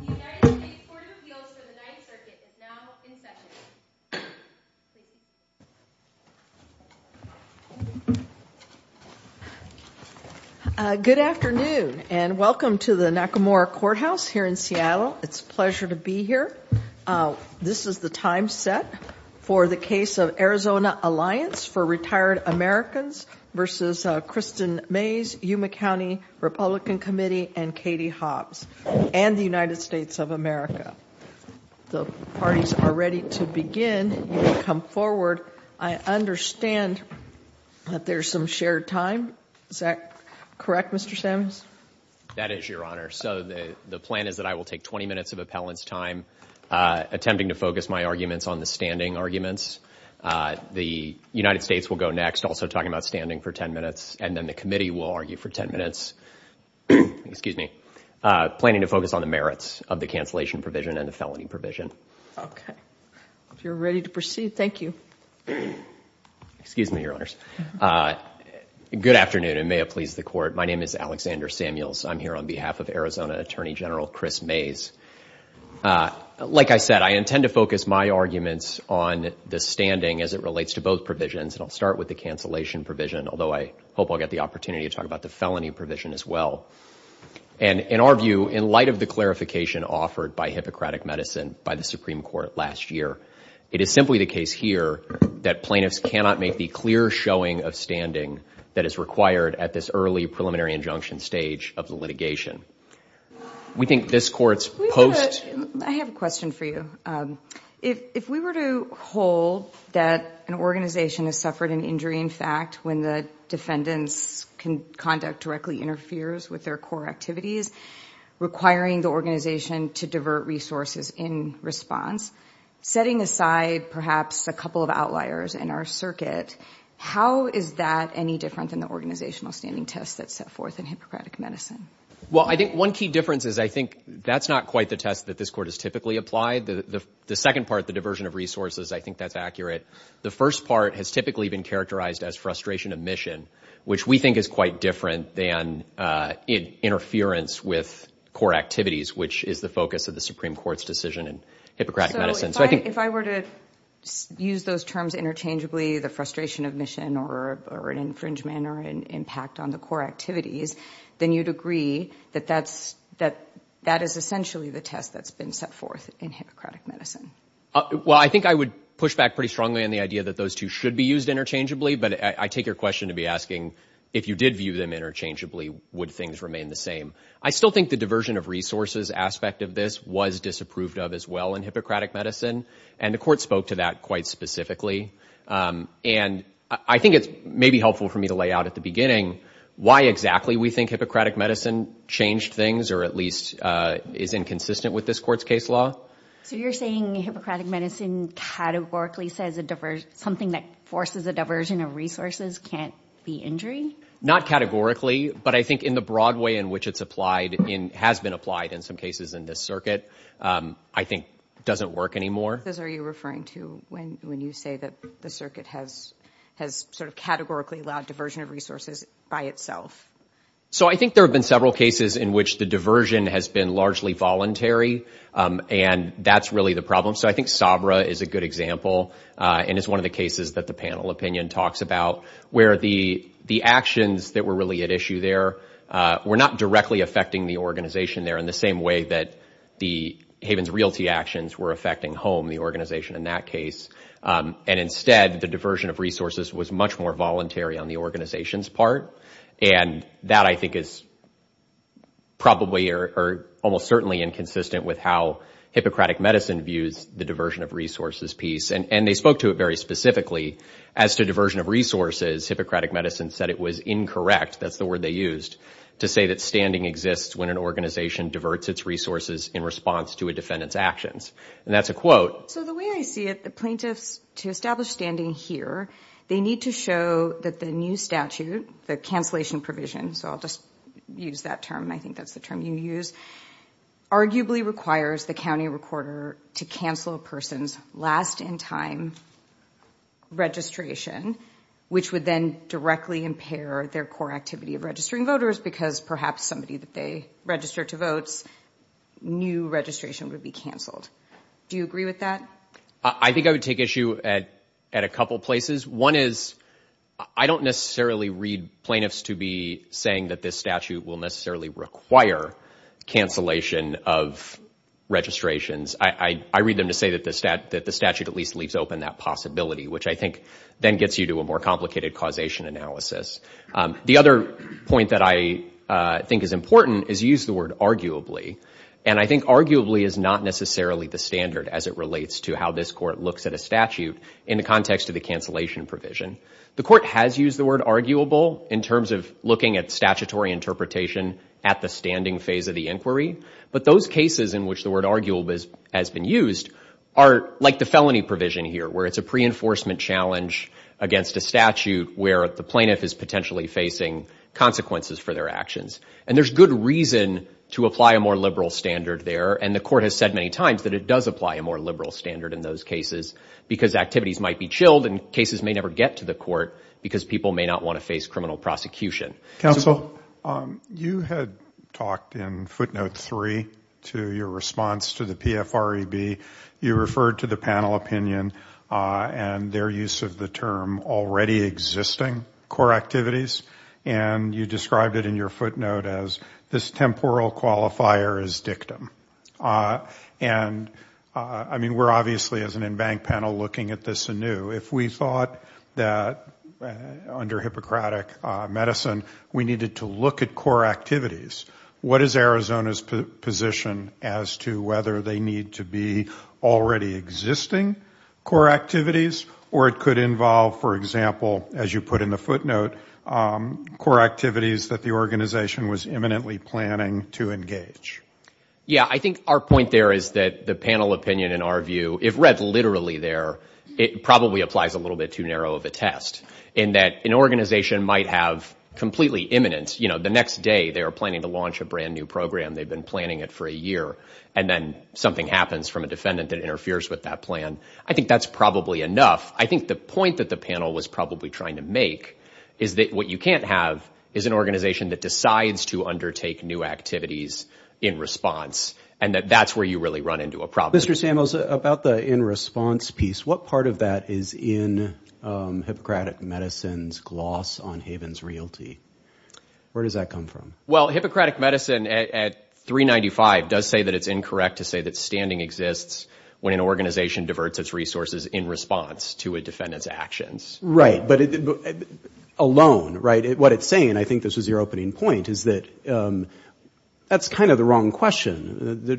The United States Court of Appeals for the Ninth Circuit is now in session. Good afternoon and welcome to the Nakamura Courthouse here in Seattle. It's a pleasure to be here. This is the time set for the case of Arizona Alliance for Retired Americans v. Kristin Mayes, Yuma County Republican Committee, and Katie Hobbs, and the United States of America. The parties are ready to begin. Come forward. I understand that there's some shared time. Is that correct, Mr. Sims? That is, Your Honor. So the plan is that I will take 20 minutes of appellant's time attempting to focus my arguments on the standing arguments. The United States will go next, also talking about standing for 10 minutes, and then the committee will argue for 10 minutes, planning to focus on the merits of the cancellation provision and the felony provision. Okay. If you're ready to proceed, thank you. Excuse me, Your Honors. Good afternoon, and may it please the Court. My name is Alexander Samuels. I'm here on behalf of Arizona Attorney General Chris Mayes. Like I said, I intend to focus my arguments on the standing as it relates to both provisions, and I'll start with the cancellation provision, although I hope I'll get the opportunity to talk about the felony provision as well. And in our view, in light of the clarification offered by Hippocratic Medicine by the Supreme Court last year, it is simply the case here that plaintiffs cannot make the clear showing of standing that is required at this early preliminary injunction stage of the litigation. We think this Court's post… I have a question for you. If we were to hold that an organization has suffered an injury, in fact, when the defendant's conduct directly interferes with their core activities, requiring the organization to divert resources in response, setting aside perhaps a couple of outliers in our circuit, how is that any different than the organizational standing test that's set forth in Hippocratic Medicine? Well, I think one key difference is I think that's not quite the test that this Court has typically applied. The second part, the diversion of resources, I think that's accurate. The first part has typically been characterized as frustration of mission, which we think is quite different than interference with core activities, which is the focus of the Supreme Court's decision in Hippocratic Medicine. So if I were to use those terms interchangeably, the frustration of mission or an infringement or an impact on the core activities, then you'd agree that that is essentially the test that's been set forth in Hippocratic Medicine? Well, I think I would push back pretty strongly on the idea that those two should be used interchangeably, but I take your question to be asking if you did view them interchangeably, would things remain the same? I still think the diversion of resources aspect of this was disapproved of as well in Hippocratic Medicine, and the Court spoke to that quite specifically. And I think it may be helpful for me to lay out at the beginning why exactly we think Hippocratic Medicine changed things or at least is inconsistent with this Court's case law. So you're saying Hippocratic Medicine categorically says something that forces a diversion of resources can't be injury? Not categorically, but I think in the broad way in which it's applied and has been applied in some cases in this circuit, I think it doesn't work anymore. Those are you referring to when you say that the circuit has sort of categorically allowed diversion of resources by itself? So I think there have been several cases in which the diversion has been largely voluntary, and that's really the problem. So I think Sabra is a good example, and it's one of the cases that the panel opinion talks about, where the actions that were really at issue there were not directly affecting the organization there in the same way that the Havens Realty actions were affecting HOME, the organization in that case. And instead, the diversion of resources was much more voluntary on the organization's part, and that I think is probably or almost certainly inconsistent with how Hippocratic Medicine views the diversion of resources piece. And they spoke to it very specifically. As to diversion of resources, Hippocratic Medicine said it was incorrect, that's the word they used, to say that standing exists when an organization diverts its resources in response to a defendant's actions. And that's a quote. So the way I see it, the plaintiffs, to establish standing here, they need to show that the new statute, the cancellation provision, so I'll just use that term, I think that's the term you use, arguably requires the county recorder to cancel a person's last-in-time registration, which would then directly impair their core activity of registering voters, because perhaps somebody that they registered to votes knew registration would be canceled. Do you agree with that? I think I would take issue at a couple places. One is I don't necessarily read plaintiffs to be saying that this statute will necessarily require cancellation of registrations. I read them to say that the statute at least leaves open that possibility, which I think then gets you to a more complicated causation analysis. The other point that I think is important is use the word arguably. And I think arguably is not necessarily the standard as it relates to how this court looks at a statute in the context of the cancellation provision. The court has used the word arguable in terms of looking at statutory interpretation at the standing phase of the inquiry. But those cases in which the word arguable has been used are like the felony provision here, where it's a pre-enforcement challenge against a statute where the plaintiff is potentially facing consequences for their actions. And there's good reason to apply a more liberal standard there, and the court has said many times that it does apply a more liberal standard in those cases, because activities might be chilled and cases may never get to the court because people may not want to face criminal prosecution. Counsel, you had talked in footnote three to your response to the PFREB. You referred to the panel opinion and their use of the term already existing core activities. And you described it in your footnote as this temporal qualifier is dictum. And I mean, we're obviously as an embanked panel looking at this anew. If we thought that under Hippocratic medicine we needed to look at core activities, what is Arizona's position as to whether they need to be already existing core activities or it could involve, for example, as you put in the footnote, core activities that the organization was imminently planning to engage? Yeah, I think our point there is that the panel opinion in our view, if read literally there, it probably applies a little bit too narrow of a test. In that an organization might have completely imminent, you know, the next day they are planning to launch a brand new program. They've been planning it for a year. And then something happens from a defendant that interferes with that plan. I think that's probably enough. I think the point that the panel was probably trying to make is that what you can't have is an organization that decides to undertake new activities in response and that that's where you really run into a problem. Mr. Samuels, about the in response piece, what part of that is in Hippocratic medicine's gloss on Haven's realty? Where does that come from? Well, Hippocratic medicine at 395 does say that it's incorrect to say that standing exists when an organization diverts its resources in response to a defendant's actions. Right, but alone, right? What it's saying, and I think this was your opening point, is that that's kind of the wrong question. The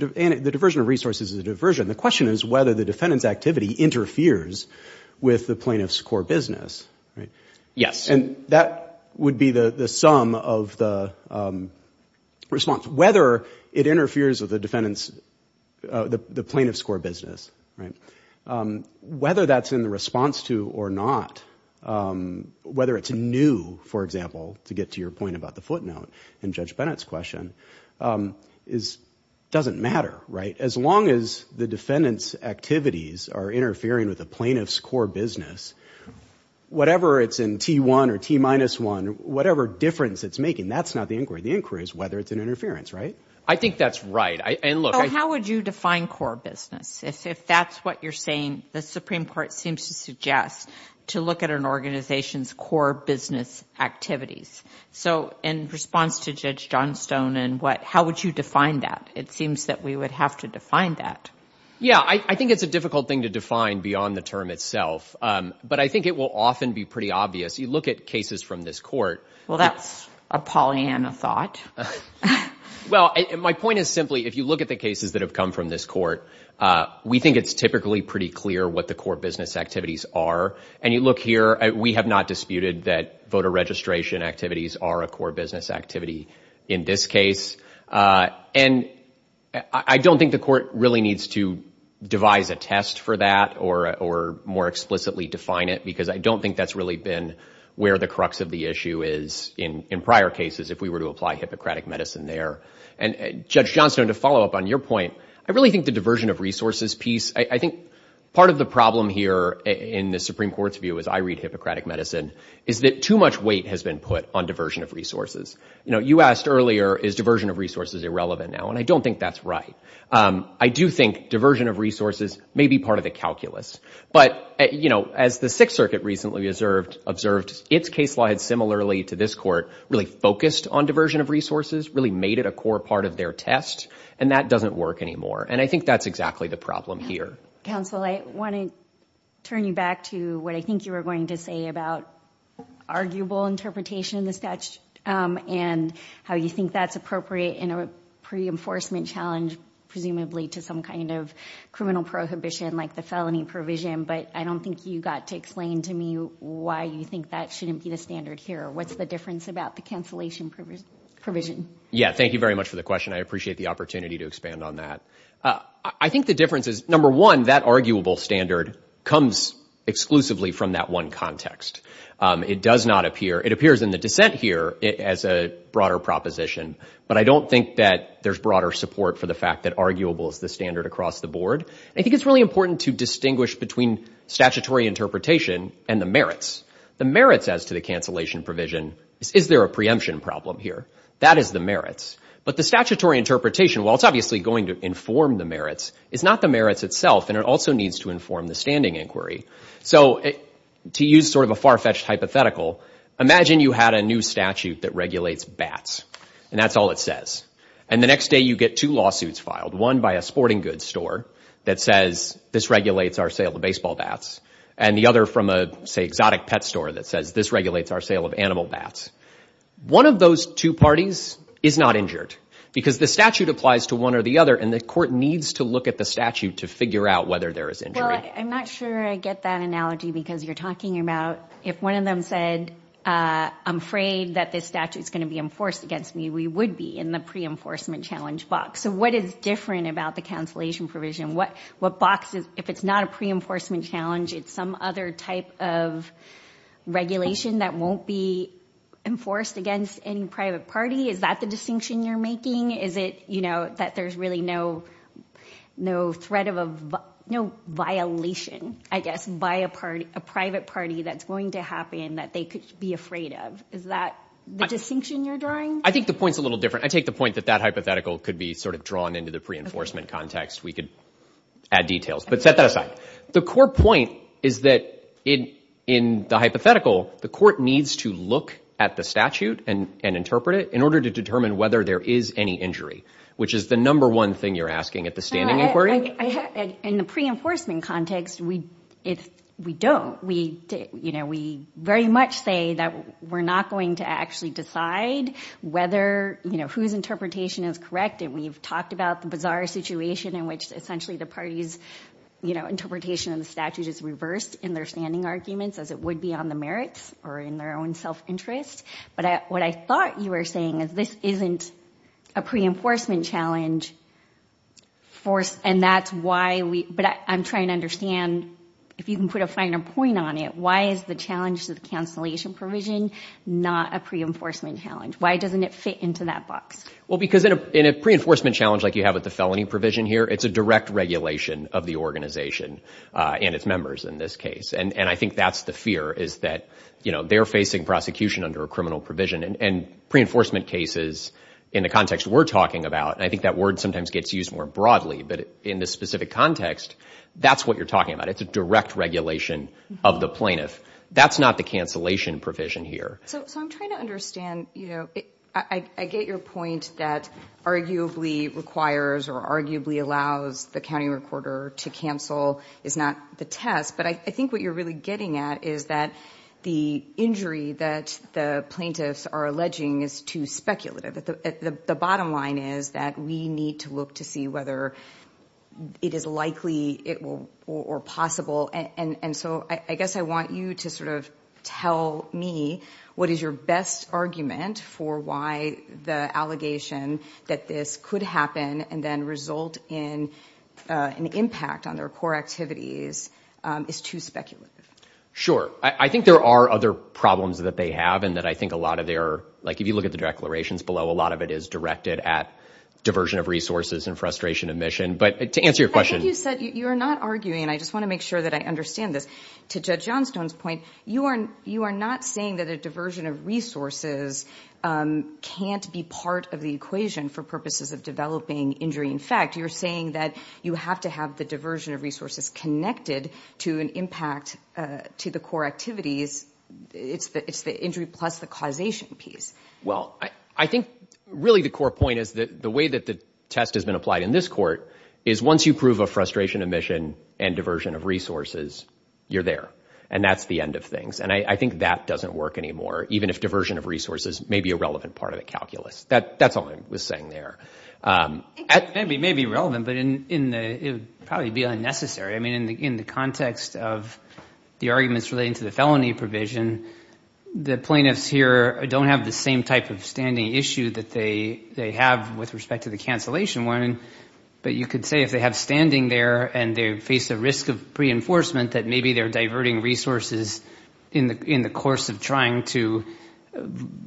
diversion of resources is a diversion. The question is whether the defendant's activity interferes with the plaintiff's core business, right? Yes. And that would be the sum of the response, whether it interferes with the defendant's, the plaintiff's core business, right? Whether that's in the response to or not, whether it's new, for example, to get to your point about the footnote in Judge Bennett's question, doesn't matter, right? As long as the defendant's activities are interfering with the plaintiff's core business, whatever it's in T1 or T-1, whatever difference it's making, that's not the inquiry. The inquiry is whether it's an interference, right? I think that's right. How would you define core business? If that's what you're saying, the Supreme Court seems to suggest to look at an organization's core business activities. So in response to Judge Johnstone, how would you define that? It seems that we would have to define that. Yeah, I think it's a difficult thing to define beyond the term itself. But I think it will often be pretty obvious. You look at cases from this court. Well, that's a Pollyanna thought. Well, my point is simply, if you look at the cases that have come from this court, we think it's typically pretty clear what the core business activities are. And you look here, we have not disputed that voter registration activities are a core business activity in this case. And I don't think the court really needs to devise a test for that or more explicitly define it, because I don't think that's really been where the crux of the issue is in prior cases if we were to apply Hippocratic medicine there. And, Judge Johnstone, to follow up on your point, I really think the diversion of resources piece, I think part of the problem here in the Supreme Court's view, as I read Hippocratic medicine, is that too much weight has been put on diversion of resources. You know, you asked earlier, is diversion of resources irrelevant now? And I don't think that's right. I do think diversion of resources may be part of the calculus. But, you know, as the Sixth Circuit recently observed, its case law had similarly to this court really focused on diversion of resources, really made it a core part of their test, and that doesn't work anymore. And I think that's exactly the problem here. Counsel, I want to turn you back to what I think you were going to say about arguable interpretation of the statute and how you think that's appropriate in a pre-enforcement challenge, presumably to some kind of criminal prohibition like the felony provision. But I don't think you got to explain to me why you think that shouldn't be the standard here. What's the difference about the cancellation provision? Yeah, thank you very much for the question. I appreciate the opportunity to expand on that. I think the difference is, number one, that arguable standard comes exclusively from that one context. It does not appear, it appears in the dissent here as a broader proposition, but I don't think that there's broader support for the fact that arguable is the standard across the board. I think it's really important to distinguish between statutory interpretation and the merits. The merits as to the cancellation provision is, is there a preemption problem here? That is the merits. But the statutory interpretation, while it's obviously going to inform the merits, is not the merits itself, and it also needs to inform the standing inquiry. So to use sort of a far-fetched hypothetical, imagine you had a new statute that regulates bats, and that's all it says. And the next day you get two lawsuits filed, one by a sporting goods store that says, this regulates our sale of baseball bats, and the other from a, say, exotic pet store that says, this regulates our sale of animal bats. One of those two parties is not injured because the statute applies to one or the other, and the court needs to look at the statute to figure out whether there is injury. Well, I'm not sure I get that analogy because you're talking about if one of them said, I'm afraid that this statute is going to be enforced against me, we would be in the pre-enforcement challenge box. So what is different about the cancellation provision? What box is, if it's not a pre-enforcement challenge, it's some other type of regulation that won't be enforced against any private party? Is that the distinction you're making? Is it, you know, that there's really no threat of a, no violation, I guess, by a private party that's going to happen that they could be afraid of? Is that the distinction you're drawing? I think the point's a little different. I take the point that that hypothetical could be sort of drawn into the pre-enforcement context. We could add details, but set that aside. The core point is that in the hypothetical, the court needs to look at the statute and interpret it in order to determine whether there is any injury, which is the number one thing you're asking at the standing inquiry. In the pre-enforcement context, we don't. We very much say that we're not going to actually decide whether, you know, whose interpretation is correct, and we've talked about the bizarre situation in which essentially the party's, you know, interpretation of the statute is reversed in their standing arguments as it would be on the merits or in their own self-interest. But what I thought you were saying is this isn't a pre-enforcement challenge, and that's why we, but I'm trying to understand, if you can put a finer point on it, why is the challenge to the cancellation provision not a pre-enforcement challenge? Why doesn't it fit into that box? Well, because in a pre-enforcement challenge like you have with the felony provision here, it's a direct regulation of the organization and its members in this case, and I think that's the fear is that, you know, they're facing prosecution under a criminal provision, and pre-enforcement cases in the context we're talking about, and I think that word sometimes gets used more broadly, but in this specific context, that's what you're talking about. It's a direct regulation of the plaintiff. That's not the cancellation provision here. So I'm trying to understand, you know, I get your point that arguably requires or arguably allows the county recorder to cancel is not the test, but I think what you're really getting at is that the injury that the plaintiffs are alleging is too speculative. The bottom line is that we need to look to see whether it is likely or possible, and so I guess I want you to sort of tell me what is your best argument for why the allegation that this could happen and then result in an impact on their core activities is too speculative. Sure. I think there are other problems that they have and that I think a lot of their, like if you look at the declarations below, a lot of it is directed at diversion of resources and frustration of mission, but to answer your question. Like you said, you're not arguing, and I just want to make sure that I understand this, to Judge Johnstone's point, you are not saying that a diversion of resources can't be part of the equation for purposes of developing injury. In fact, you're saying that you have to have the diversion of resources connected to an impact to the core activities. It's the injury plus the causation piece. Well, I think really the core point is that the way that the test has been applied in this court is once you prove a frustration of mission and diversion of resources, you're there, and that's the end of things, and I think that doesn't work anymore, even if diversion of resources may be a relevant part of the calculus. That's all I was saying there. It may be relevant, but it would probably be unnecessary. I mean, in the context of the arguments relating to the felony provision, the plaintiffs here don't have the same type of standing issue that they have with respect to the cancellation one, but you could say if they have standing there and they face the risk of reinforcement, that maybe they're diverting resources in the course of trying to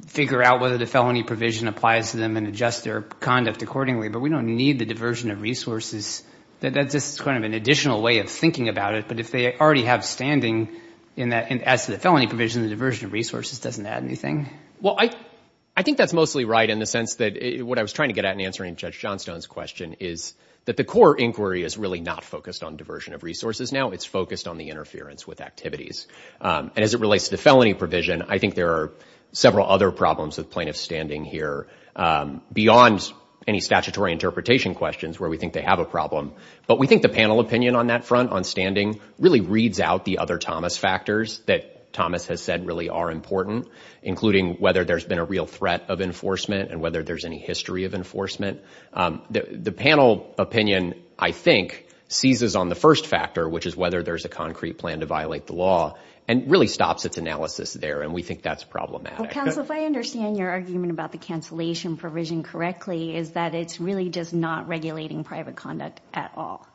figure out whether the felony provision applies to them and adjust their conduct accordingly, but we don't need the diversion of resources. That's just kind of an additional way of thinking about it, but if they already have standing as to the felony provision, the diversion of resources doesn't add anything. Well, I think that's mostly right in the sense that what I was trying to get at in answering Judge Johnstone's question is that the core inquiry is really not focused on diversion of resources now. It's focused on the interference with activities, and as it relates to the felony provision, I think there are several other problems with plaintiffs standing here beyond any statutory interpretation questions where we think they have a problem, but we think the panel opinion on that front, on standing, really reads out the other Thomas factors that Thomas has said really are important, including whether there's been a real threat of enforcement and whether there's any history of enforcement. The panel opinion, I think, seizes on the first factor, which is whether there's a concrete plan to violate the law, and really stops its analysis there, and we think that's problematic. Counsel, if I understand your argument about the cancellation provision correctly, is that it's really just not regulating private conduct at all.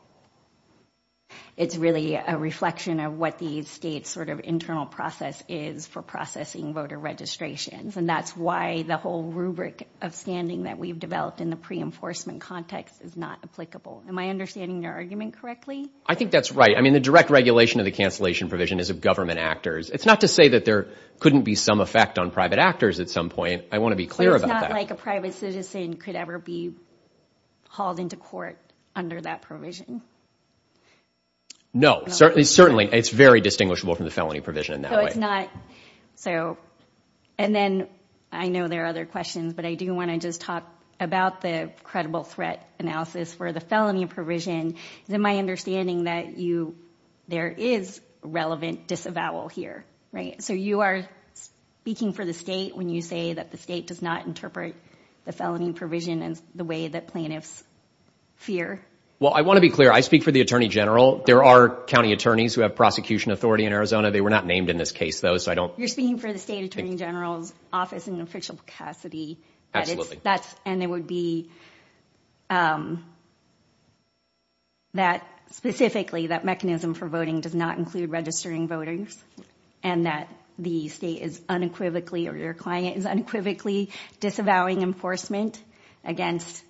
It's really a reflection of what the state's sort of internal process is for processing voter registrations, and that's why the whole rubric of standing that we've developed in the pre-enforcement context is not applicable. Am I understanding your argument correctly? I think that's right. I mean, the direct regulation of the cancellation provision is of government actors. It's not to say that there couldn't be some effect on private actors at some point. I want to be clear about that. It's not like a private citizen could ever be hauled into court under that provision. No, certainly. It's very distinguishable from the felony provision in that way. No, it's not. And then I know there are other questions, but I do want to just talk about the credible threat analysis for the felony provision. Is it my understanding that there is relevant disavowal here, right? So you are speaking for the state when you say that the state does not interpret the felony provision in the way that plaintiffs fear? Well, I want to be clear. I speak for the attorney general. There are county attorneys who have prosecution authority in Arizona. They were not named in this case, though, so I don't— You're speaking for the state attorney general's office in Official Cassidy. Absolutely. And it would be that specifically that mechanism for voting does not include registering voters and that the state is unequivocally or your client is unequivocally disavowing enforcement against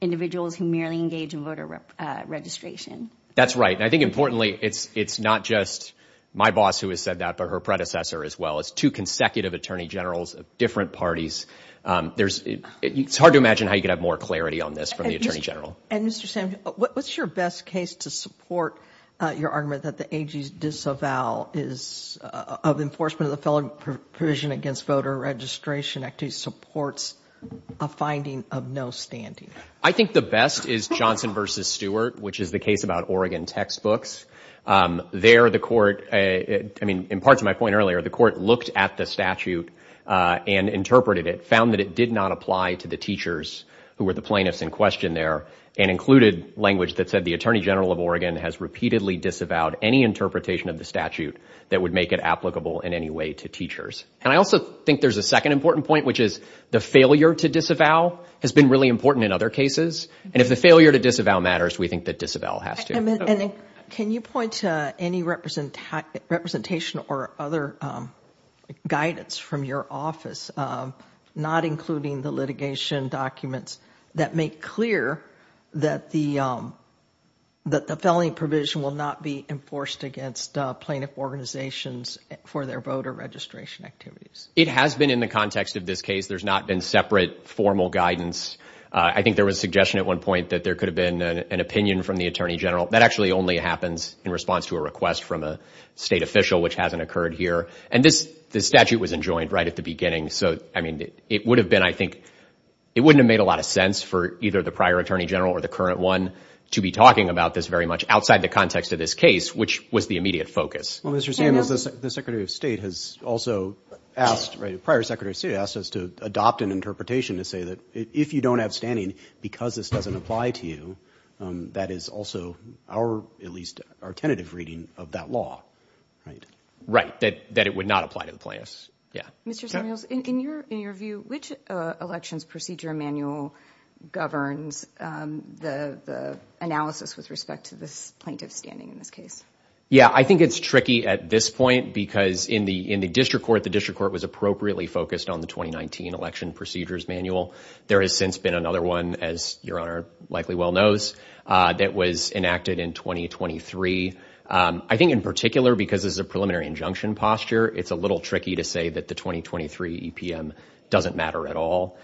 individuals who merely engage in voter registration. That's right. And I think importantly, it's not just my boss who has said that, but her predecessor as well. It's two consecutive attorney generals of different parties. It's hard to imagine how you could have more clarity on this from the attorney general. And, Mr. Sam, what's your best case to support your argument that the AG's disavowal of enforcement of the felony provision against voter registration actually supports a finding of no standing? I think the best is Johnson v. Stewart, which is the case about Oregon textbooks. There, the court—I mean, in part to my point earlier, the court looked at the statute and interpreted it, found that it did not apply to the teachers who were the plaintiffs in question there, and included language that said the attorney general of Oregon has repeatedly disavowed any interpretation of the statute that would make it applicable in any way to teachers. And I also think there's a second important point, which is the failure to disavow has been really important in other cases. And if the failure to disavow matters, we think that disavow has to. And can you point to any representation or other guidance from your office, not including the litigation documents that make clear that the felony provision will not be enforced against plaintiff organizations for their voter registration activities? It has been in the context of this case. There's not been separate formal guidance. I think there was a suggestion at one point that there could have been an opinion from the attorney general. That actually only happens in response to a request from a state official, which hasn't occurred here. And this statute was enjoined right at the beginning. So, I mean, it would have been, I think—it wouldn't have made a lot of sense for either the prior attorney general or the current one to be talking about this very much outside the context of this case, which was the immediate focus. Well, Mr. Samuels, the Secretary of State has also asked— the prior Secretary of State has asked us to adopt an interpretation to say that if you don't have standing because this doesn't apply to you, that is also our—at least our tentative reading of that law, right? Right, that it would not apply to the plaintiffs. Yeah. Mr. Samuels, in your view, which elections procedure manual governs the analysis with respect to this plaintiff's standing in this case? Yeah, I think it's tricky at this point because in the district court, the district court was appropriately focused on the 2019 election procedures manual. There has since been another one, as Your Honor likely well knows, that was enacted in 2023. I think in particular because this is a preliminary injunction posture, it's a little tricky to say that the 2023 EPM doesn't matter at all.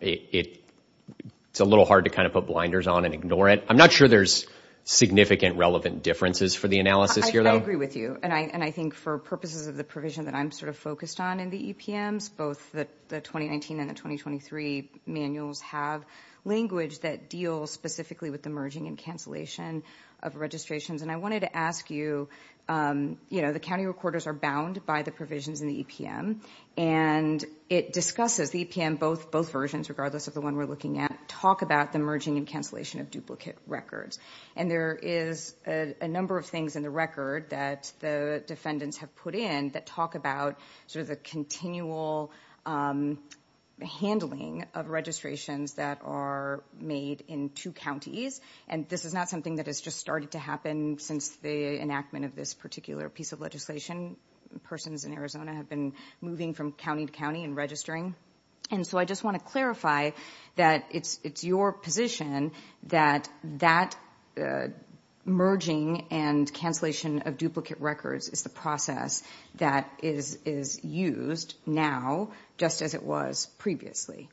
It's a little hard to kind of put blinders on and ignore it. I'm not sure there's significant relevant differences for the analysis here, though. I agree with you, and I think for purposes of the provision that I'm sort of focused on in the EPMs, both the 2019 and the 2023 manuals have language that deals specifically with the merging and cancellation of registrations. And I wanted to ask you, you know, the county recorders are bound by the provisions in the EPM, and it discusses—the EPM, both versions, regardless of the one we're looking at— talk about the merging and cancellation of duplicate records. And there is a number of things in the record that the defendants have put in that talk about sort of the continual handling of registrations that are made in two counties. And this is not something that has just started to happen since the enactment of this particular piece of legislation. Persons in Arizona have been moving from county to county and registering. And so I just want to clarify that it's your position that that merging and cancellation of duplicate records is the process that is used now just as it was previously.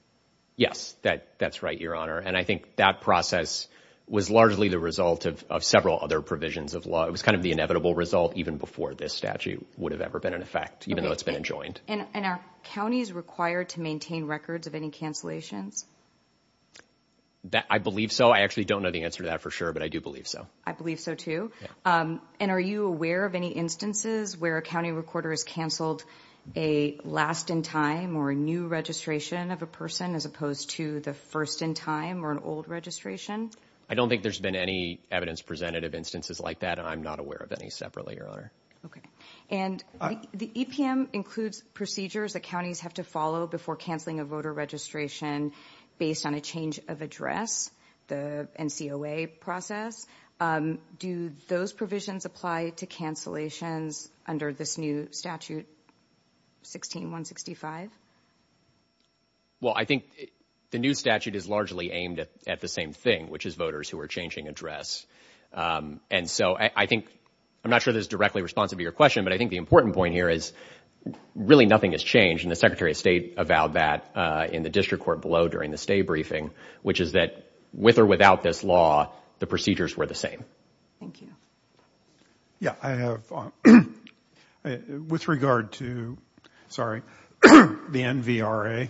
Yes, that's right, Your Honor. And I think that process was largely the result of several other provisions of law. It was kind of the inevitable result even before this statute would have ever been in effect, even though it's been enjoined. And are counties required to maintain records of any cancellations? I believe so. I actually don't know the answer to that for sure, but I do believe so. I believe so, too. And are you aware of any instances where a county recorder has canceled a last-in-time or a new registration of a person as opposed to the first-in-time or an old registration? I don't think there's been any evidence presented of instances like that, and I'm not aware of any separately, Your Honor. Okay. And the EPM includes procedures that counties have to follow before canceling a voter registration based on a change of address, the NCOA process. Do those provisions apply to cancellations under this new statute, 16-165? Well, I think the new statute is largely aimed at the same thing, which is voters who are changing address. And so I think, I'm not sure this is directly responsive to your question, but I think the important point here is really nothing has changed, and the Secretary of State avowed that in the district court below during the stay briefing, which is that with or without this law, the procedures were the same. Thank you. Yeah, I have. With regard to, sorry, the NVRA,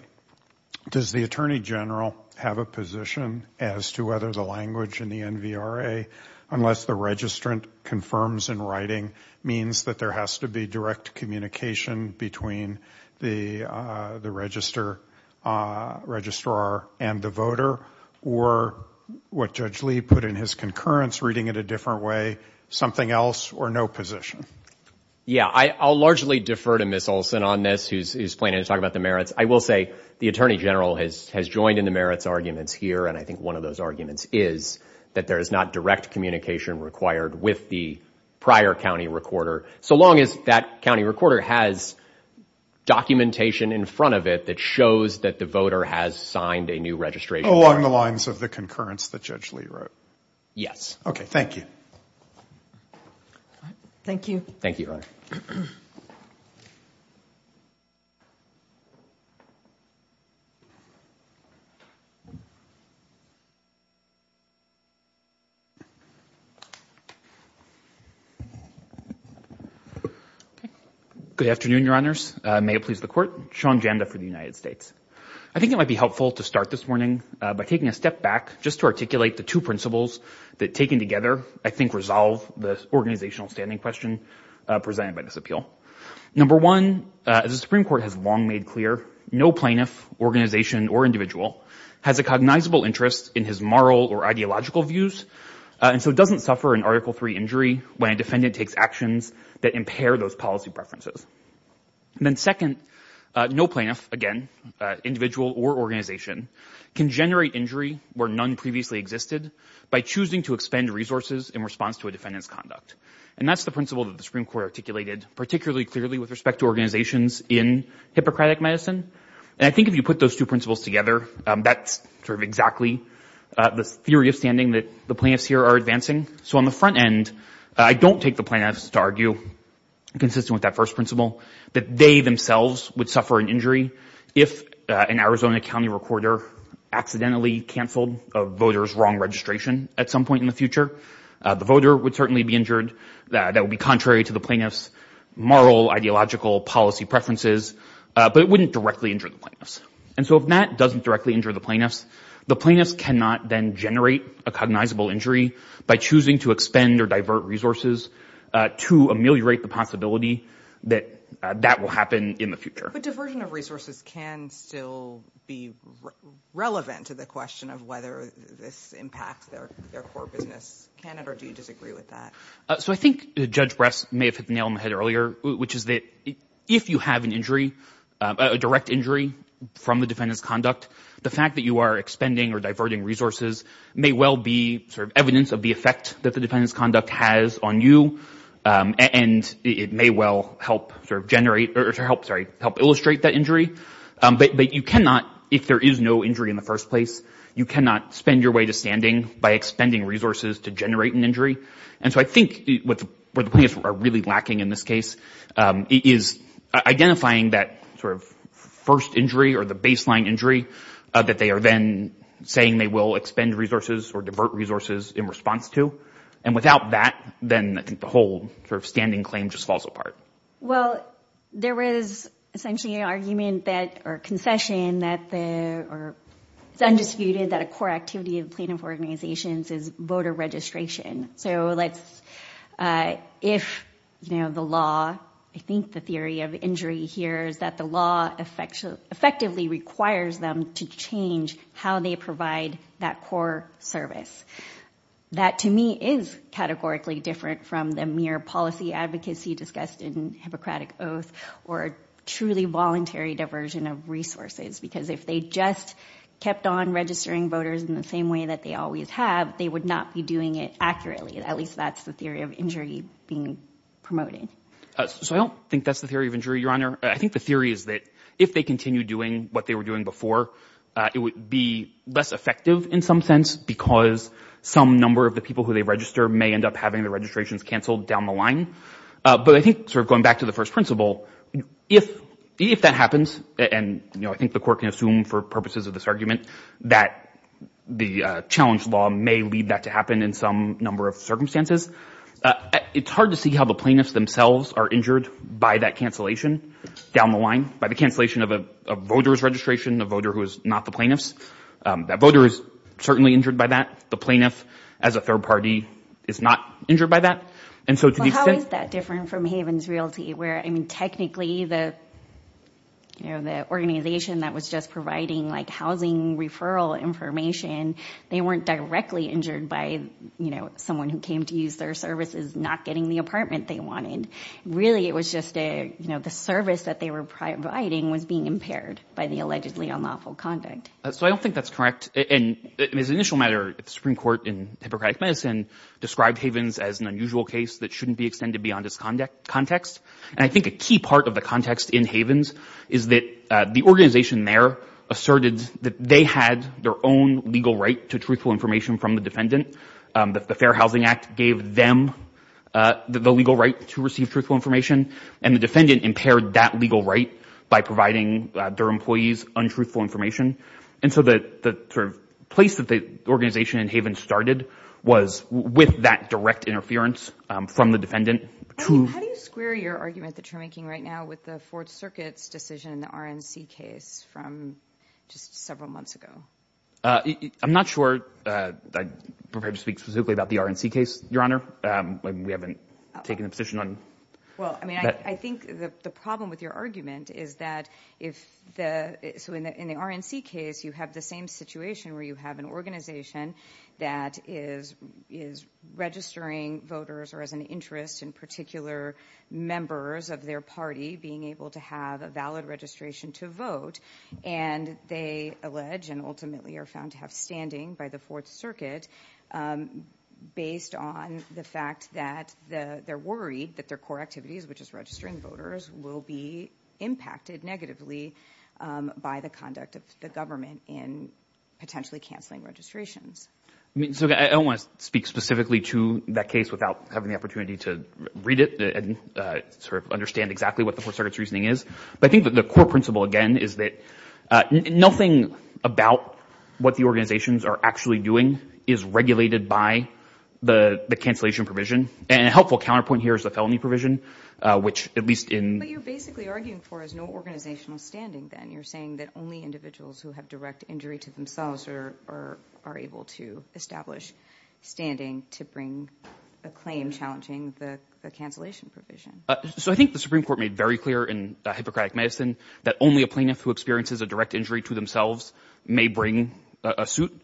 does the Attorney General have a position as to whether the language in the NVRA, unless the registrant confirms in writing, means that there has to be direct communication between the registrar and the voter, or what Judge Lee put in his concurrence, reading it a different way, something else, or no position? Yeah, I'll largely defer to Ms. Olson on this, who's planning to talk about the merits. I will say the Attorney General has joined in the merits arguments here, and I think one of those arguments is that there is not direct communication required with the prior county recorder, so long as that county recorder has documentation in front of it that shows that the voter has signed a new registration. Along the lines of the concurrence that Judge Lee wrote? Yes. Okay, thank you. Thank you. Thank you, Your Honor. Good afternoon, Your Honors. May it please the Court. Sean Janda for the United States. I think it might be helpful to start this morning by taking a step back just to articulate the two principles that, taken together, I think resolve the organizational standing question presented by this appeal. Number one, as the Supreme Court has long made clear, no plaintiff, organization, or individual, has a cognizable interest in his moral or ideological views, and so doesn't suffer an Article III injury when a defendant takes actions that impair those policy preferences. And then second, no plaintiff, again, individual or organization, can generate injury where none previously existed by choosing to expend resources in response to a defendant's conduct. And that's the principle that the Supreme Court articulated particularly clearly with respect to organizations in Hippocratic Medicine. And I think if you put those two principles together, that's sort of exactly the theory of standing that the plaintiffs here are advancing. So on the front end, I don't take the plaintiffs to argue, consistent with that first principle, that they themselves would suffer an injury if an Arizona County recorder accidentally canceled a voter's wrong registration at some point in the future. The voter would certainly be injured. That would be contrary to the plaintiff's moral, ideological policy preferences, but it wouldn't directly injure the plaintiffs. And so if that doesn't directly injure the plaintiffs, the plaintiffs cannot then generate a cognizable injury by choosing to expend or divert resources to ameliorate the possibility that that will happen in the future. But diversion of resources can still be relevant to the question of whether this impacts their core business, can it, or do you disagree with that? So I think Judge Bress may have hit the nail on the head earlier, which is that if you have an injury, a direct injury from the defendant's conduct, the fact that you are expending or diverting resources may well be evidence of the effect that the defendant's conduct has on you, and it may well help illustrate that injury. But you cannot, if there is no injury in the first place, you cannot spend your way to standing by expending resources to generate an injury. And so I think what the plaintiffs are really lacking in this case is identifying that sort of first injury or the baseline injury that they are then saying they will expend resources or divert resources in response to. And without that, then I think the whole sort of standing claim just falls apart. Well, there was essentially an argument that, or a concession that the, or it's undisputed that a core activity of plaintiff organizations is voter registration. So let's, if, you know, the law, I think the theory of injury here is that the law effectively requires them to change how they provide that core service. That, to me, is categorically different from the mere policy advocacy discussed in Hippocratic Oath, or truly voluntary diversion of resources, because if they just kept on registering voters in the same way that they always have, they would not be doing it accurately. At least that's the theory of injury being promoted. So I don't think that's the theory of injury, Your Honor. I think the theory is that if they continue doing what they were doing before, it would be less effective in some sense, because some number of the people who they register may end up having the registrations canceled down the line. But I think sort of going back to the first principle, if that happens, and, you know, I think the court can assume for purposes of this argument that the challenge law may lead that to happen in some number of circumstances. It's hard to see how the plaintiffs themselves are injured by that cancellation down the line, by the cancellation of a voter's registration, a voter who is not the plaintiffs. That voter is certainly injured by that. The plaintiff, as a third party, is not injured by that. Well, how is that different from Havens Realty, where, I mean, technically the, you know, the organization that was just providing, like, housing referral information, they weren't directly injured by, you know, someone who came to use their services not getting the apartment they wanted. Really it was just a, you know, the service that they were providing was being impaired by the allegedly unlawful conduct. So I don't think that's correct. And as an initial matter, the Supreme Court in Hippocratic Medicine described Havens as an unusual case that shouldn't be extended beyond its context. And I think a key part of the context in Havens is that the organization there asserted that they had their own legal right to truthful information from the defendant. The Fair Housing Act gave them the legal right to receive truthful information, and the defendant impaired that legal right by providing their employees untruthful information. And so the sort of place that the organization in Havens started was with that direct interference from the defendant. How do you square your argument that you're making right now with the Fourth Circuit's decision in the RNC case from just several months ago? I'm not sure I'm prepared to speak specifically about the RNC case, Your Honor. We haven't taken a position on that. Well, I mean, I think the problem with your argument is that if the – so in the RNC case, you have the same situation where you have an organization that is registering voters or has an interest in particular members of their party being able to have a valid registration to vote, and they allege and ultimately are found to have standing by the Fourth Circuit based on the fact that they're worried that their core activities, which is registering voters, will be impacted negatively by the conduct of the government in potentially canceling registrations. So I don't want to speak specifically to that case without having the opportunity to read it and sort of understand exactly what the Fourth Circuit's reasoning is. But I think that the core principle, again, is that nothing about what the organizations are actually doing is regulated by the cancellation provision. And a helpful counterpoint here is the felony provision, which at least in – But you're basically arguing for is no organizational standing then. You're saying that only individuals who have direct injury to themselves are able to establish standing to bring a claim challenging the cancellation provision. So I think the Supreme Court made very clear in the Hippocratic Madison that only a plaintiff who experiences a direct injury to themselves may bring a suit,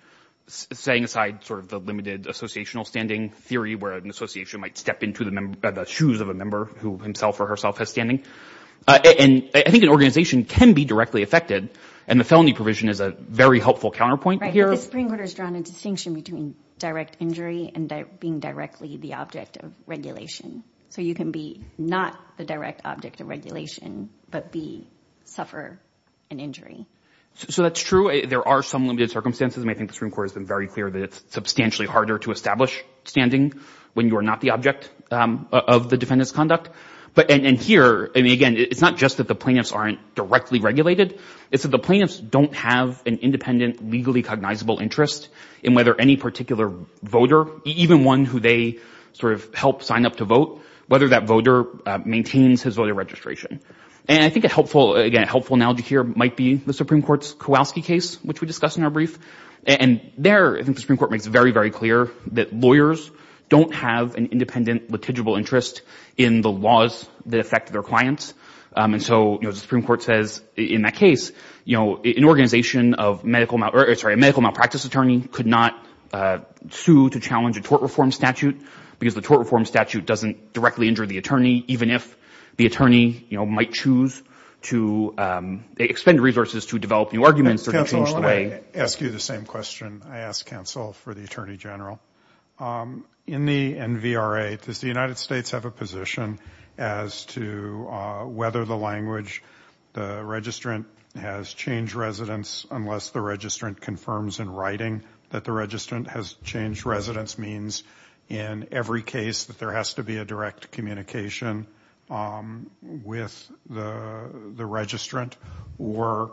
setting aside sort of the limited associational standing theory where an association might step into the shoes of a member who himself or herself has standing. And I think an organization can be directly affected, and the felony provision is a very helpful counterpoint here. But the Supreme Court has drawn a distinction between direct injury and being directly the object of regulation. So you can be not the direct object of regulation but be – suffer an injury. So that's true. There are some limited circumstances. And I think the Supreme Court has been very clear that it's substantially harder to establish standing when you are not the object of the defendant's conduct. But – and here, I mean, again, it's not just that the plaintiffs aren't directly regulated. It's that the plaintiffs don't have an independent, legally cognizable interest in whether any particular voter, even one who they sort of help sign up to vote, whether that voter maintains his voter registration. And I think a helpful – again, a helpful analogy here might be the Supreme Court's Kowalski case, which we discussed in our brief. And there, I think the Supreme Court makes it very, very clear that lawyers don't have an independent litigable interest in the laws that affect their clients. And so, you know, the Supreme Court says in that case, you know, an organization of medical – or, sorry, a medical malpractice attorney could not sue to challenge a tort reform statute because the tort reform statute doesn't directly injure the attorney, even if the attorney, you know, might choose to expend resources to develop new arguments or change the way – I ask you the same question I ask counsel for the attorney general. In the NVRA, does the United States have a position as to whether the language, the registrant has changed residence, unless the registrant confirms in writing that the registrant has changed residence, means in every case that there has to be a direct communication with the registrant, or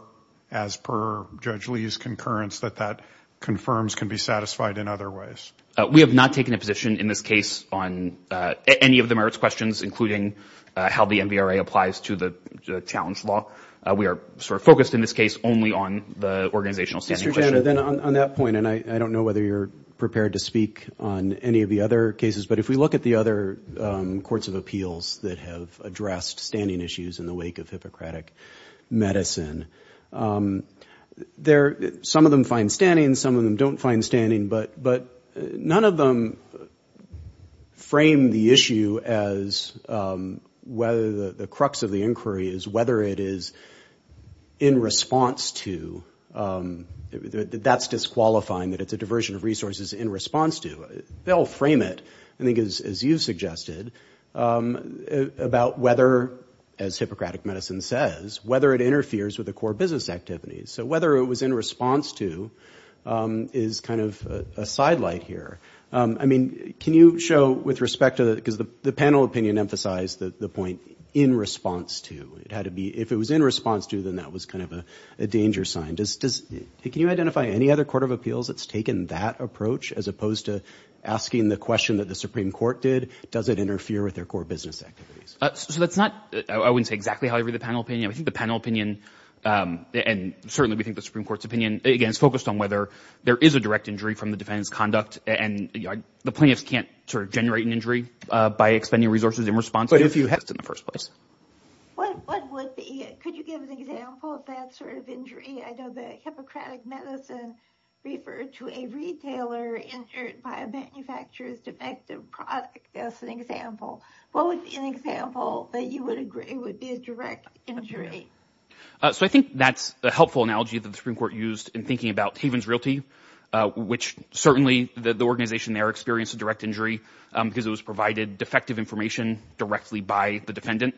as per Judge Lee's concurrence, that that confirms can be satisfied in other ways? We have not taken a position in this case on any of the merits questions, including how the NVRA applies to the challenge law. We are sort of focused in this case only on the organizational standing question. Mr. Janna, then on that point, and I don't know whether you're prepared to speak on any of the other cases, but if we look at the other courts of appeals that have addressed standing issues in the wake of Hippocratic medicine, some of them find standing, some of them don't find standing, but none of them frame the issue as whether the crux of the inquiry is whether it is in response to – that that's disqualifying, that it's a diversion of resources in response to. They all frame it, I think, as you suggested, about whether, as Hippocratic medicine says, whether it interferes with the core business activities. So whether it was in response to is kind of a sidelight here. I mean, can you show with respect to – because the panel opinion emphasized the point in response to. It had to be – if it was in response to, then that was kind of a danger sign. Can you identify any other court of appeals that's taken that approach as opposed to asking the question that the Supreme Court did, does it interfere with their core business activities? So that's not – I wouldn't say exactly how I read the panel opinion. I think the panel opinion, and certainly we think the Supreme Court's opinion, again, is focused on whether there is a direct injury from the defendant's conduct, and the plaintiffs can't sort of generate an injury by expending resources in response to. But if you had in the first place. What would be – could you give an example of that sort of injury? I know that Hippocratic medicine referred to a retailer injured by a manufacturer's defective product as an example. What would be an example that you would agree would be a direct injury? So I think that's a helpful analogy that the Supreme Court used in thinking about Havens Realty, which certainly the organization there experienced a direct injury because it was provided defective information directly by the defendant,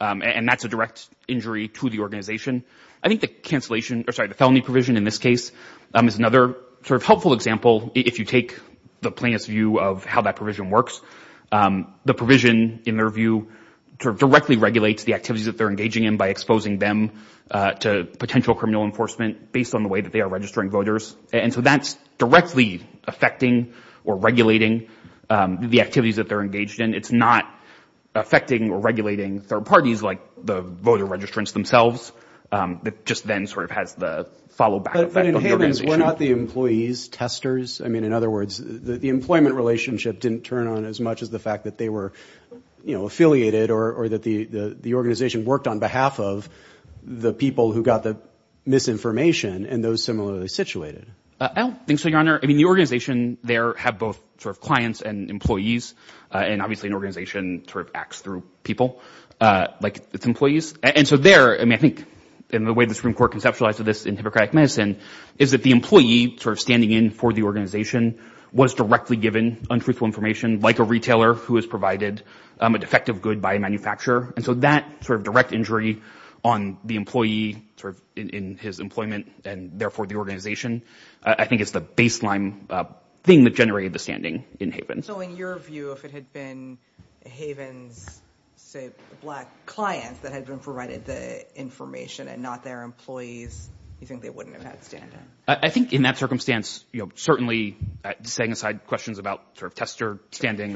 and that's a direct injury to the organization. I think the cancellation – or sorry, the felony provision in this case is another sort of helpful example. If you take the plaintiff's view of how that provision works, the provision in their view sort of directly regulates the activities that they're engaging in by exposing them to potential criminal enforcement based on the way that they are registering voters. And so that's directly affecting or regulating the activities that they're engaged in. It's not affecting or regulating third parties like the voter registrants themselves. It just then sort of has the follow-back effect on the organization. But in Havens, were not the employees testers? I mean, in other words, the employment relationship didn't turn on as much as the fact that they were affiliated or that the organization worked on behalf of the people who got the misinformation and those similarly situated. I don't think so, Your Honor. I mean, the organization there had both sort of clients and employees, and obviously an organization sort of acts through people like its employees. And so there – I mean, I think in the way the Supreme Court conceptualized this in Hippocratic Medicine is that the employee sort of standing in for the organization was directly given untruthful information, like a retailer who has provided a defective good by a manufacturer. And so that sort of direct injury on the employee sort of in his employment and therefore the organization, I think it's the baseline thing that generated the standing in Havens. So in your view, if it had been Havens' say black clients that had been provided the information and not their employees, you think they wouldn't have had standing? I think in that circumstance, you know, certainly setting aside questions about sort of tester standing,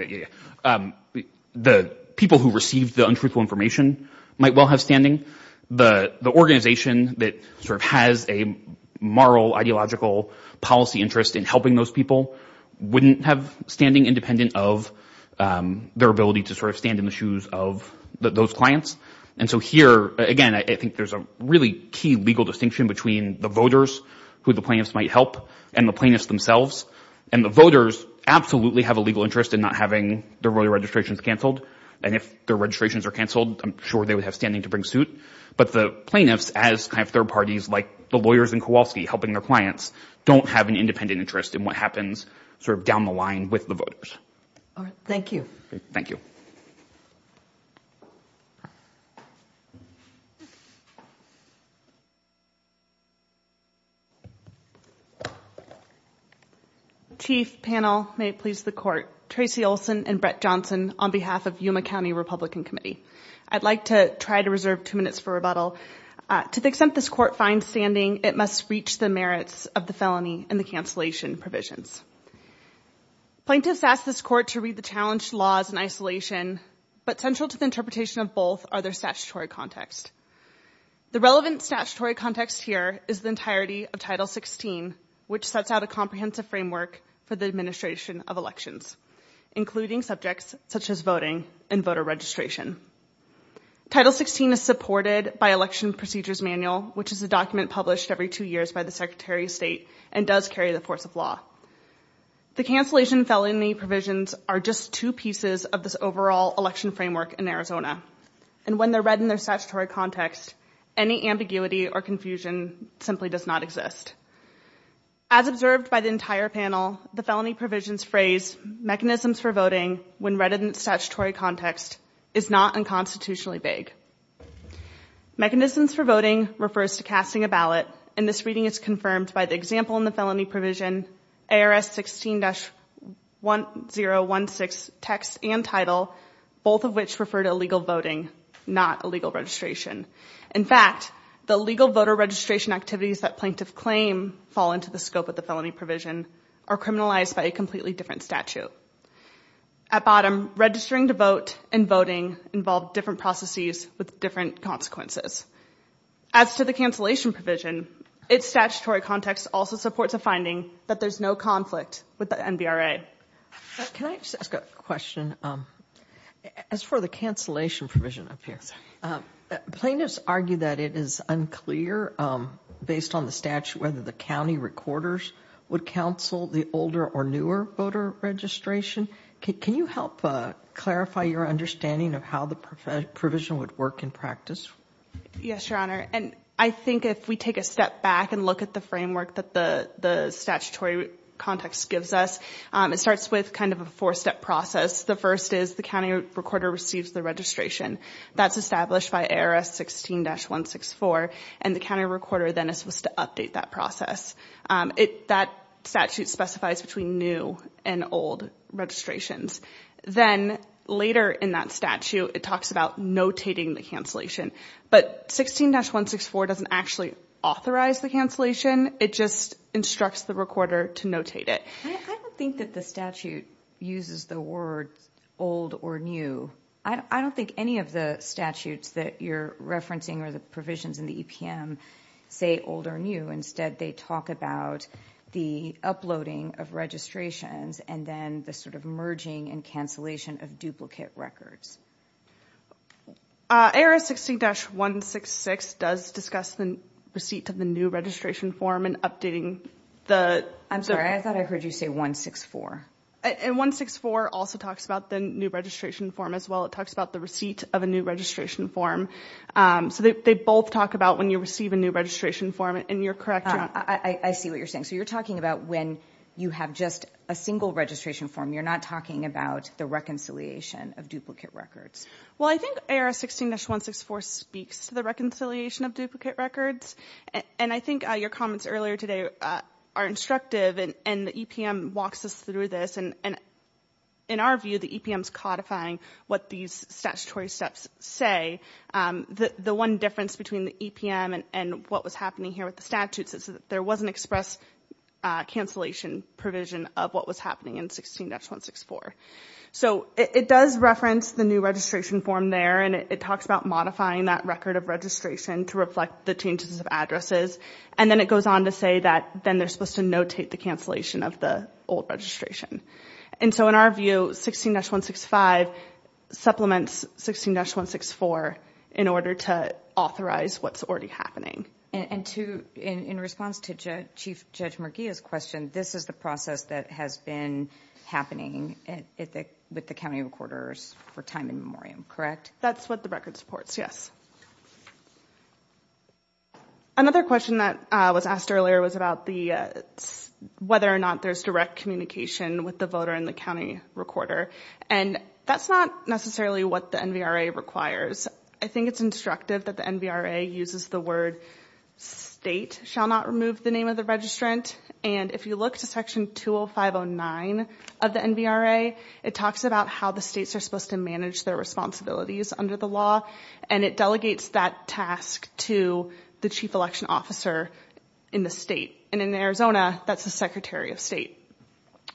the people who received the untruthful information might well have standing. The organization that sort of has a moral, ideological policy interest in helping those people wouldn't have standing independent of their ability to sort of stand in the shoes of those clients. And so here, again, I think there's a really key legal distinction between the voters who the plaintiffs might help and the plaintiffs themselves. And the voters absolutely have a legal interest in not having their voter registrations canceled. And if their registrations are canceled, I'm sure they would have standing to bring suit. But the plaintiffs as kind of third parties, like the lawyers in Kowalski helping their clients, don't have an independent interest in what happens sort of down the line with the voters. All right. Thank you. Thank you. Chief, panel, may it please the court. Tracy Olson and Brett Johnson on behalf of Yuma County Republican Committee. I'd like to try to reserve two minutes for rebuttal. To the extent this court finds standing, it must reach the merits of the felony and the cancellation provisions. Plaintiffs ask this court to read the challenged laws in isolation, but central to the interpretation of both are their statutory context. The relevant statutory context here is the entirety of Title 16, which sets out a comprehensive framework for the administration of elections, including subjects such as voting and voter registration. Title 16 is supported by Election Procedures Manual, which is a document published every two years by the Secretary of State and does carry the force of law. The cancellation felony provisions are just two pieces of this overall election framework in Arizona. And when they're read in their statutory context, any ambiguity or confusion simply does not exist. As observed by the entire panel, the felony provisions phrase mechanisms for voting when read in the statutory context is not unconstitutionally vague. Mechanisms for voting refers to casting a ballot, and this reading is confirmed by the example in the felony provision, ARS 16-1016 text and title, both of which refer to illegal voting, not illegal registration. In fact, the legal voter registration activities that plaintiffs claim fall into the scope of the felony provision are criminalized by a completely different statute. At bottom, registering to vote and voting involve different processes with different consequences. As to the cancellation provision, its statutory context also supports a finding that there's no conflict with the NBRA. Can I just ask a question? As for the cancellation provision up here, plaintiffs argue that it is unclear, based on the statute, whether the county recorders would counsel the older or newer voter registration. Can you help clarify your understanding of how the provision would work in practice? Yes, Your Honor. And I think if we take a step back and look at the framework that the statutory context gives us, it starts with kind of a four-step process. The first is the county recorder receives the registration. That's established by ARS 16-164, and the county recorder then is supposed to update that process. That statute specifies between new and old registrations. Then later in that statute, it talks about notating the cancellation. But 16-164 doesn't actually authorize the cancellation. It just instructs the recorder to notate it. I don't think that the statute uses the words old or new. I don't think any of the statutes that you're referencing or the provisions in the EPM say old or new. Instead, they talk about the uploading of registrations and then the sort of merging and cancellation of duplicate records. ARS 16-166 does discuss the receipt of the new registration form and updating the- I'm sorry. I thought I heard you say 164. And 164 also talks about the new registration form as well. It talks about the receipt of a new registration form. So they both talk about when you receive a new registration form, and you're correct. I see what you're saying. So you're talking about when you have just a single registration form. You're not talking about the reconciliation of duplicate records. Well, I think ARS 16-164 speaks to the reconciliation of duplicate records. And I think your comments earlier today are instructive, and the EPM walks us through this. In our view, the EPM is codifying what these statutory steps say. The one difference between the EPM and what was happening here with the statutes is that there was an express cancellation provision of what was happening in 16-164. So it does reference the new registration form there, and it talks about modifying that record of registration to reflect the changes of addresses. And then it goes on to say that then they're supposed to notate the cancellation of the old registration. And so in our view, 16-165 supplements 16-164 in order to authorize what's already happening. And in response to Chief Judge Merguia's question, this is the process that has been happening with the county recorders for time in memoriam, correct? That's what the record supports, yes. Another question that was asked earlier was about whether or not there's direct communication with the voter and the county recorder. And that's not necessarily what the NVRA requires. I think it's instructive that the NVRA uses the word, state shall not remove the name of the registrant. And if you look to Section 20509 of the NVRA, it talks about how the states are supposed to manage their responsibilities under the law. And it delegates that task to the chief election officer in the state. And in Arizona, that's the Secretary of State.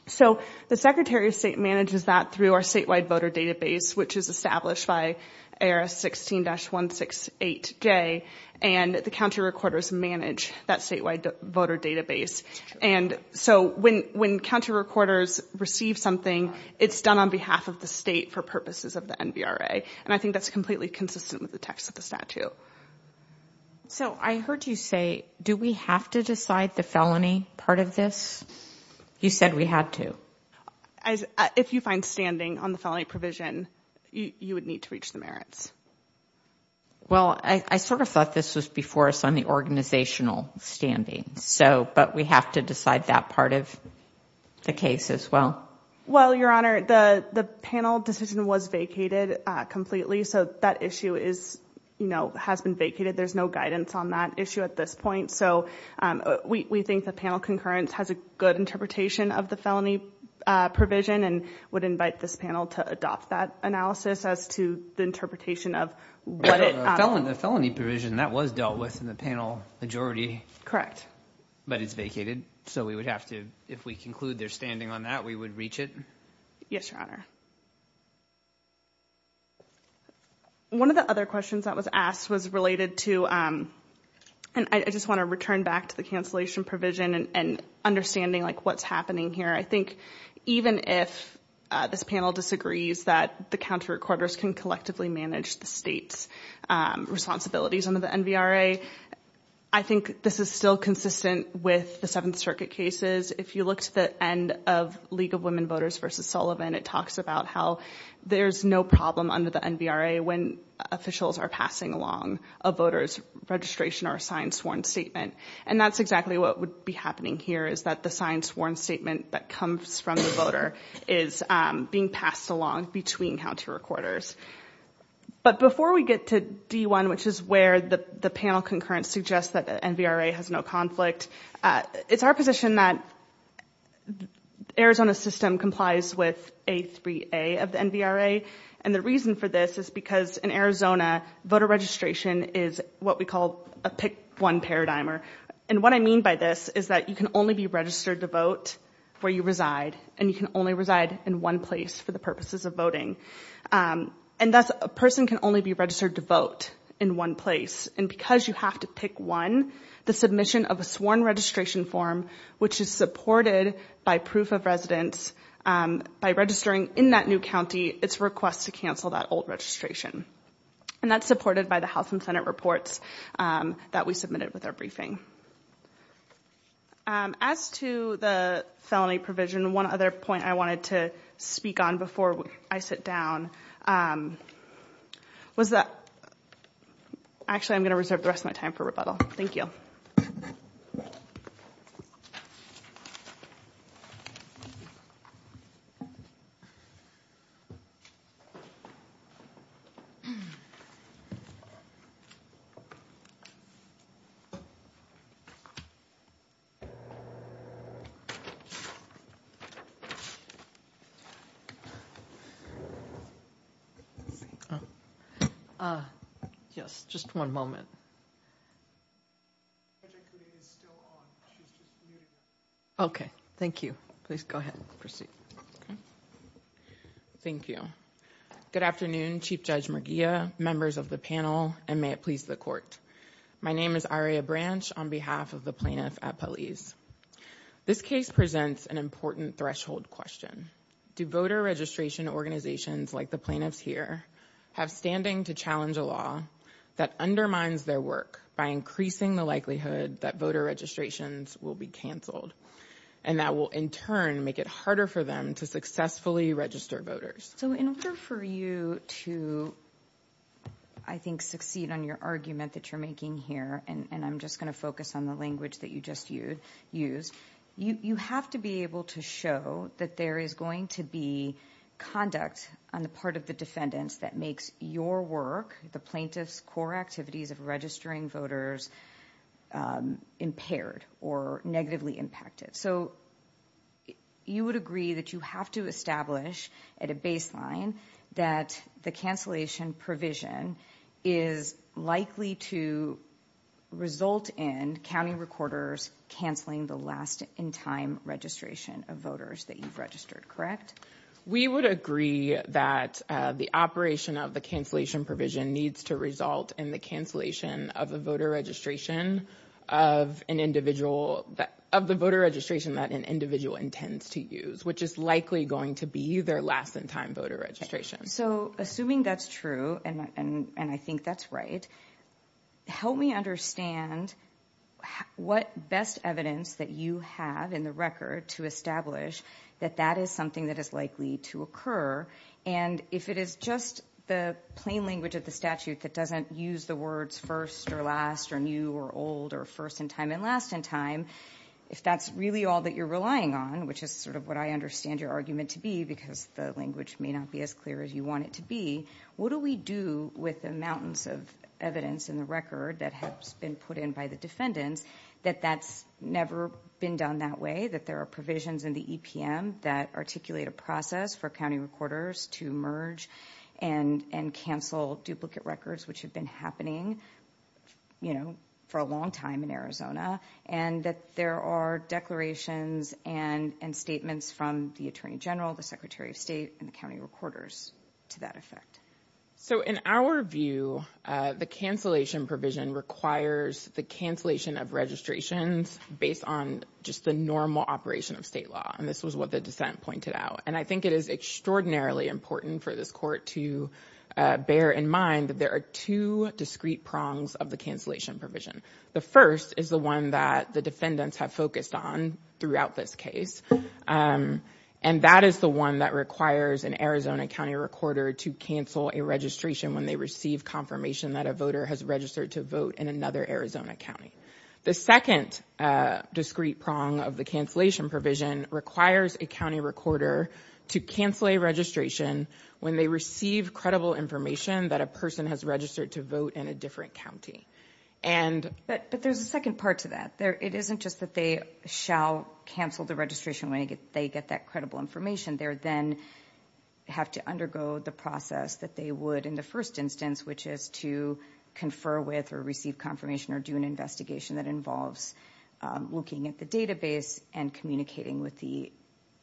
So the Secretary of State manages that through our statewide voter database, which is established by ARS 16-168J. And the county recorders manage that statewide voter database. And so when county recorders receive something, it's done on behalf of the state for purposes of the NVRA. And I think that's completely consistent with the text of the statute. So I heard you say, do we have to decide the felony part of this? You said we had to. If you find standing on the felony provision, you would need to reach the merits. Well, I sort of thought this was before us on the organizational standing. But we have to decide that part of the case as well? Well, Your Honor, the panel decision was vacated completely. So that issue has been vacated. There's no guidance on that issue at this point. So we think the panel concurrence has a good interpretation of the felony provision and would invite this panel to adopt that analysis as to the interpretation of what it— The felony provision, that was dealt with in the panel majority. Correct. But it's vacated. So we would have to—if we conclude there's standing on that, we would reach it? Yes, Your Honor. One of the other questions that was asked was related to— and I just want to return back to the cancellation provision and understanding what's happening here. I think even if this panel disagrees that the county recorders can collectively manage the state's responsibilities under the NVRA, I think this is still consistent with the Seventh Circuit cases. If you look to the end of League of Women Voters v. Sullivan, it talks about how there's no problem under the NVRA when officials are passing along a voter's registration or a sign-sworn statement. And that's exactly what would be happening here, is that the sign-sworn statement that comes from the voter is being passed along between county recorders. But before we get to D1, which is where the panel concurrence suggests that the NVRA has no conflict, it's our position that Arizona's system complies with A3A of the NVRA. And the reason for this is because in Arizona, voter registration is what we call a pick-one paradigmer. And what I mean by this is that you can only be registered to vote where you reside, and you can only reside in one place for the purposes of voting. And thus, a person can only be registered to vote in one place. And because you have to pick one, the submission of a sworn registration form, which is supported by proof of residence, by registering in that new county, it's a request to cancel that old registration. And that's supported by the House and Senate reports that we submitted with our briefing. As to the felony provision, one other point I wanted to speak on before I sit down was that— Actually, I'm going to reserve the rest of my time for rebuttal. Thank you. Thank you. Yes, just one moment. Okay, thank you. Please go ahead and proceed. Thank you. Good afternoon, Chief Judge Murguia, members of the panel, and may it please the Court. My name is Aria Branch on behalf of the plaintiff at Peliz. This case presents an important threshold question. Do voter registration organizations like the plaintiffs here have standing to challenge a law that undermines their work by increasing the likelihood that voter registrations will be canceled, and that will, in turn, make it harder for them to successfully register voters? So in order for you to, I think, succeed on your argument that you're making here, and I'm just going to focus on the language that you just used, you have to be able to show that there is going to be conduct on the part of the defendants that makes your work, the plaintiff's core activities of registering voters, impaired or negatively impacted. So you would agree that you have to establish at a baseline that the cancellation provision is likely to result in county recorders canceling the last-in-time registration of voters that you've registered, correct? We would agree that the operation of the cancellation provision needs to result in the cancellation of the voter registration of an individual, of the voter registration that an individual intends to use, which is likely going to be their last-in-time voter registration. So assuming that's true, and I think that's right, help me understand what best evidence that you have in the record to establish that that is something that is likely to occur, and if it is just the plain language of the statute that doesn't use the words first or last or new or old or first-in-time and last-in-time, if that's really all that you're relying on, which is sort of what I understand your argument to be because the language may not be as clear as you want it to be, what do we do with the mountains of evidence in the record that has been put in by the defendants that that's never been done that way, that there are provisions in the EPM that articulate a process for county recorders to merge and cancel duplicate records which have been happening for a long time in Arizona, and that there are declarations and statements from the Attorney General, the Secretary of State, and the county recorders to that effect? So in our view, the cancellation provision requires the cancellation of registrations based on just the normal operation of state law, and this was what the dissent pointed out. And I think it is extraordinarily important for this court to bear in mind that there are two discrete prongs of the cancellation provision. The first is the one that the defendants have focused on throughout this case, and that is the one that requires an Arizona county recorder to cancel a registration when they receive confirmation that a voter has registered to vote in another Arizona county. The second discrete prong of the cancellation provision requires a county recorder to cancel a registration when they receive credible information that a person has registered to vote in a different county. But there's a second part to that. It isn't just that they shall cancel the registration when they get that credible information. They then have to undergo the process that they would in the first instance, which is to confer with or receive confirmation or do an investigation that involves looking at the database and communicating with the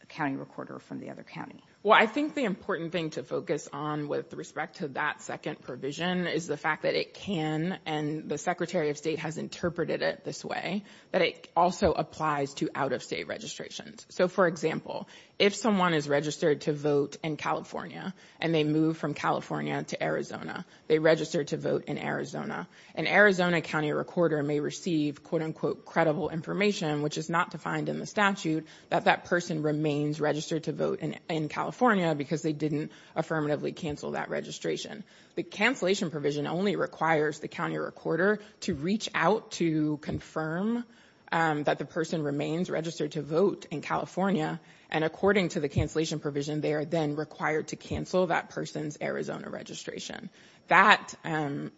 county recorder from the other county. Well, I think the important thing to focus on with respect to that second provision is the fact that it can, and the Secretary of State has interpreted it this way, that it also applies to out-of-state registrations. So, for example, if someone is registered to vote in California and they move from California to Arizona, they register to vote in Arizona, an Arizona county recorder may receive quote-unquote credible information, which is not defined in the statute, that that person remains registered to vote in California because they didn't affirmatively cancel that registration. The cancellation provision only requires the county recorder to reach out to confirm that the person remains registered to vote in California, and according to the cancellation provision, they are then required to cancel that person's Arizona registration. That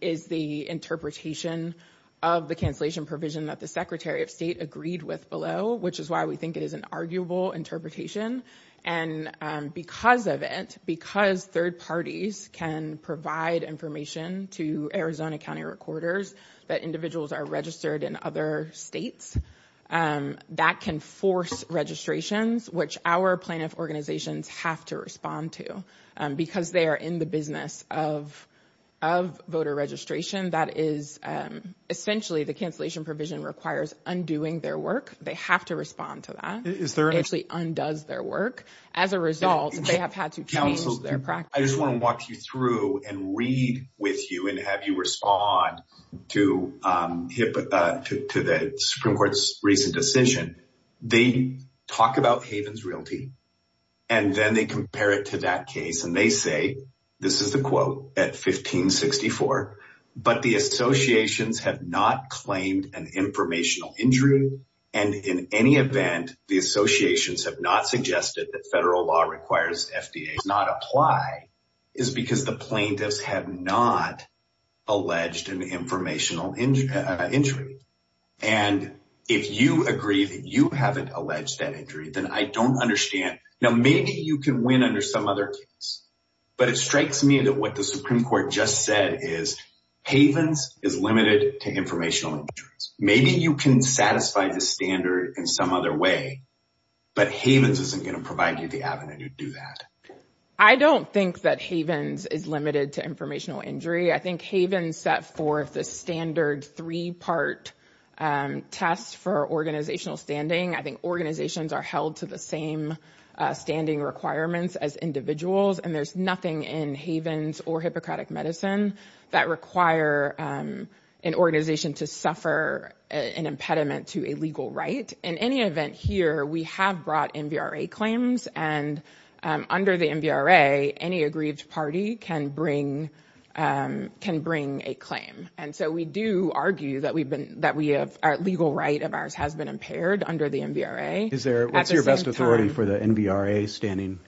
is the interpretation of the cancellation provision that the Secretary of State agreed with below, which is why we think it is an arguable interpretation, and because of it, because third parties can provide information to Arizona county recorders that individuals are registered in other states, that can force registrations, which our plaintiff organizations have to respond to because they are in the business of voter registration. That is essentially, the cancellation provision requires undoing their work. They have to respond to that. It actually undoes their work. As a result, they have had to change their practice. I just want to walk you through and read with you and have you respond to the Supreme Court's recent decision. They talk about Haven's Realty, and then they compare it to that case, and they say, this is the quote at 1564, but the associations have not claimed an informational injury, and in any event, the associations have not suggested that federal law requires FDA not apply is because the plaintiffs have not alleged an informational injury, and if you agree that you haven't alleged that injury, then I don't understand. Now, maybe you can win under some other case, but it strikes me that what the Supreme Court just said is Haven's is limited to informational injuries. Maybe you can satisfy the standard in some other way, but Haven's isn't going to provide you the avenue to do that. I don't think that Haven's is limited to informational injury. I think Haven's set forth a standard three-part test for organizational standing. I think organizations are held to the same standing requirements as individuals, and there's nothing in Haven's or Hippocratic Medicine that require an organization to suffer an impediment to a legal right. In any event here, we have brought NBRA claims, and under the NBRA, any aggrieved party can bring a claim, and so we do argue that our legal right of ours has been impaired under the NBRA. What's your best authority for the NBRA standing?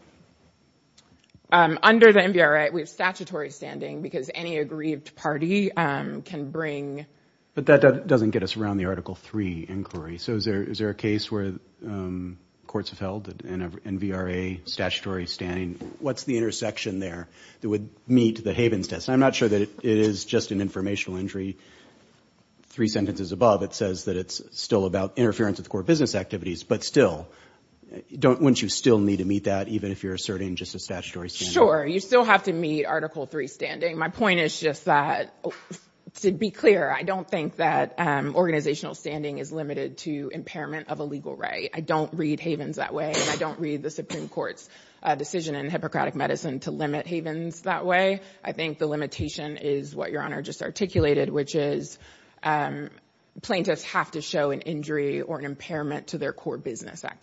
Under the NBRA, we have statutory standing because any aggrieved party can bring... But that doesn't get us around the Article 3 inquiry. So is there a case where courts have held that an NBRA statutory standing, what's the intersection there that would meet the Haven's test? I'm not sure that it is just an informational injury. Three sentences above, it says that it's still about interference with core business activities, but still, wouldn't you still need to meet that even if you're asserting just a statutory standing? Sure, you still have to meet Article 3 standing. My point is just that, to be clear, I don't think that organizational standing is limited to impairment of a legal right. I don't read Haven's that way, and I don't read the Supreme Court's decision in Hippocratic Medicine to limit Haven's that way. I think the limitation is what Your Honor just articulated, which is plaintiffs have to show an injury or an impairment to their core business activities.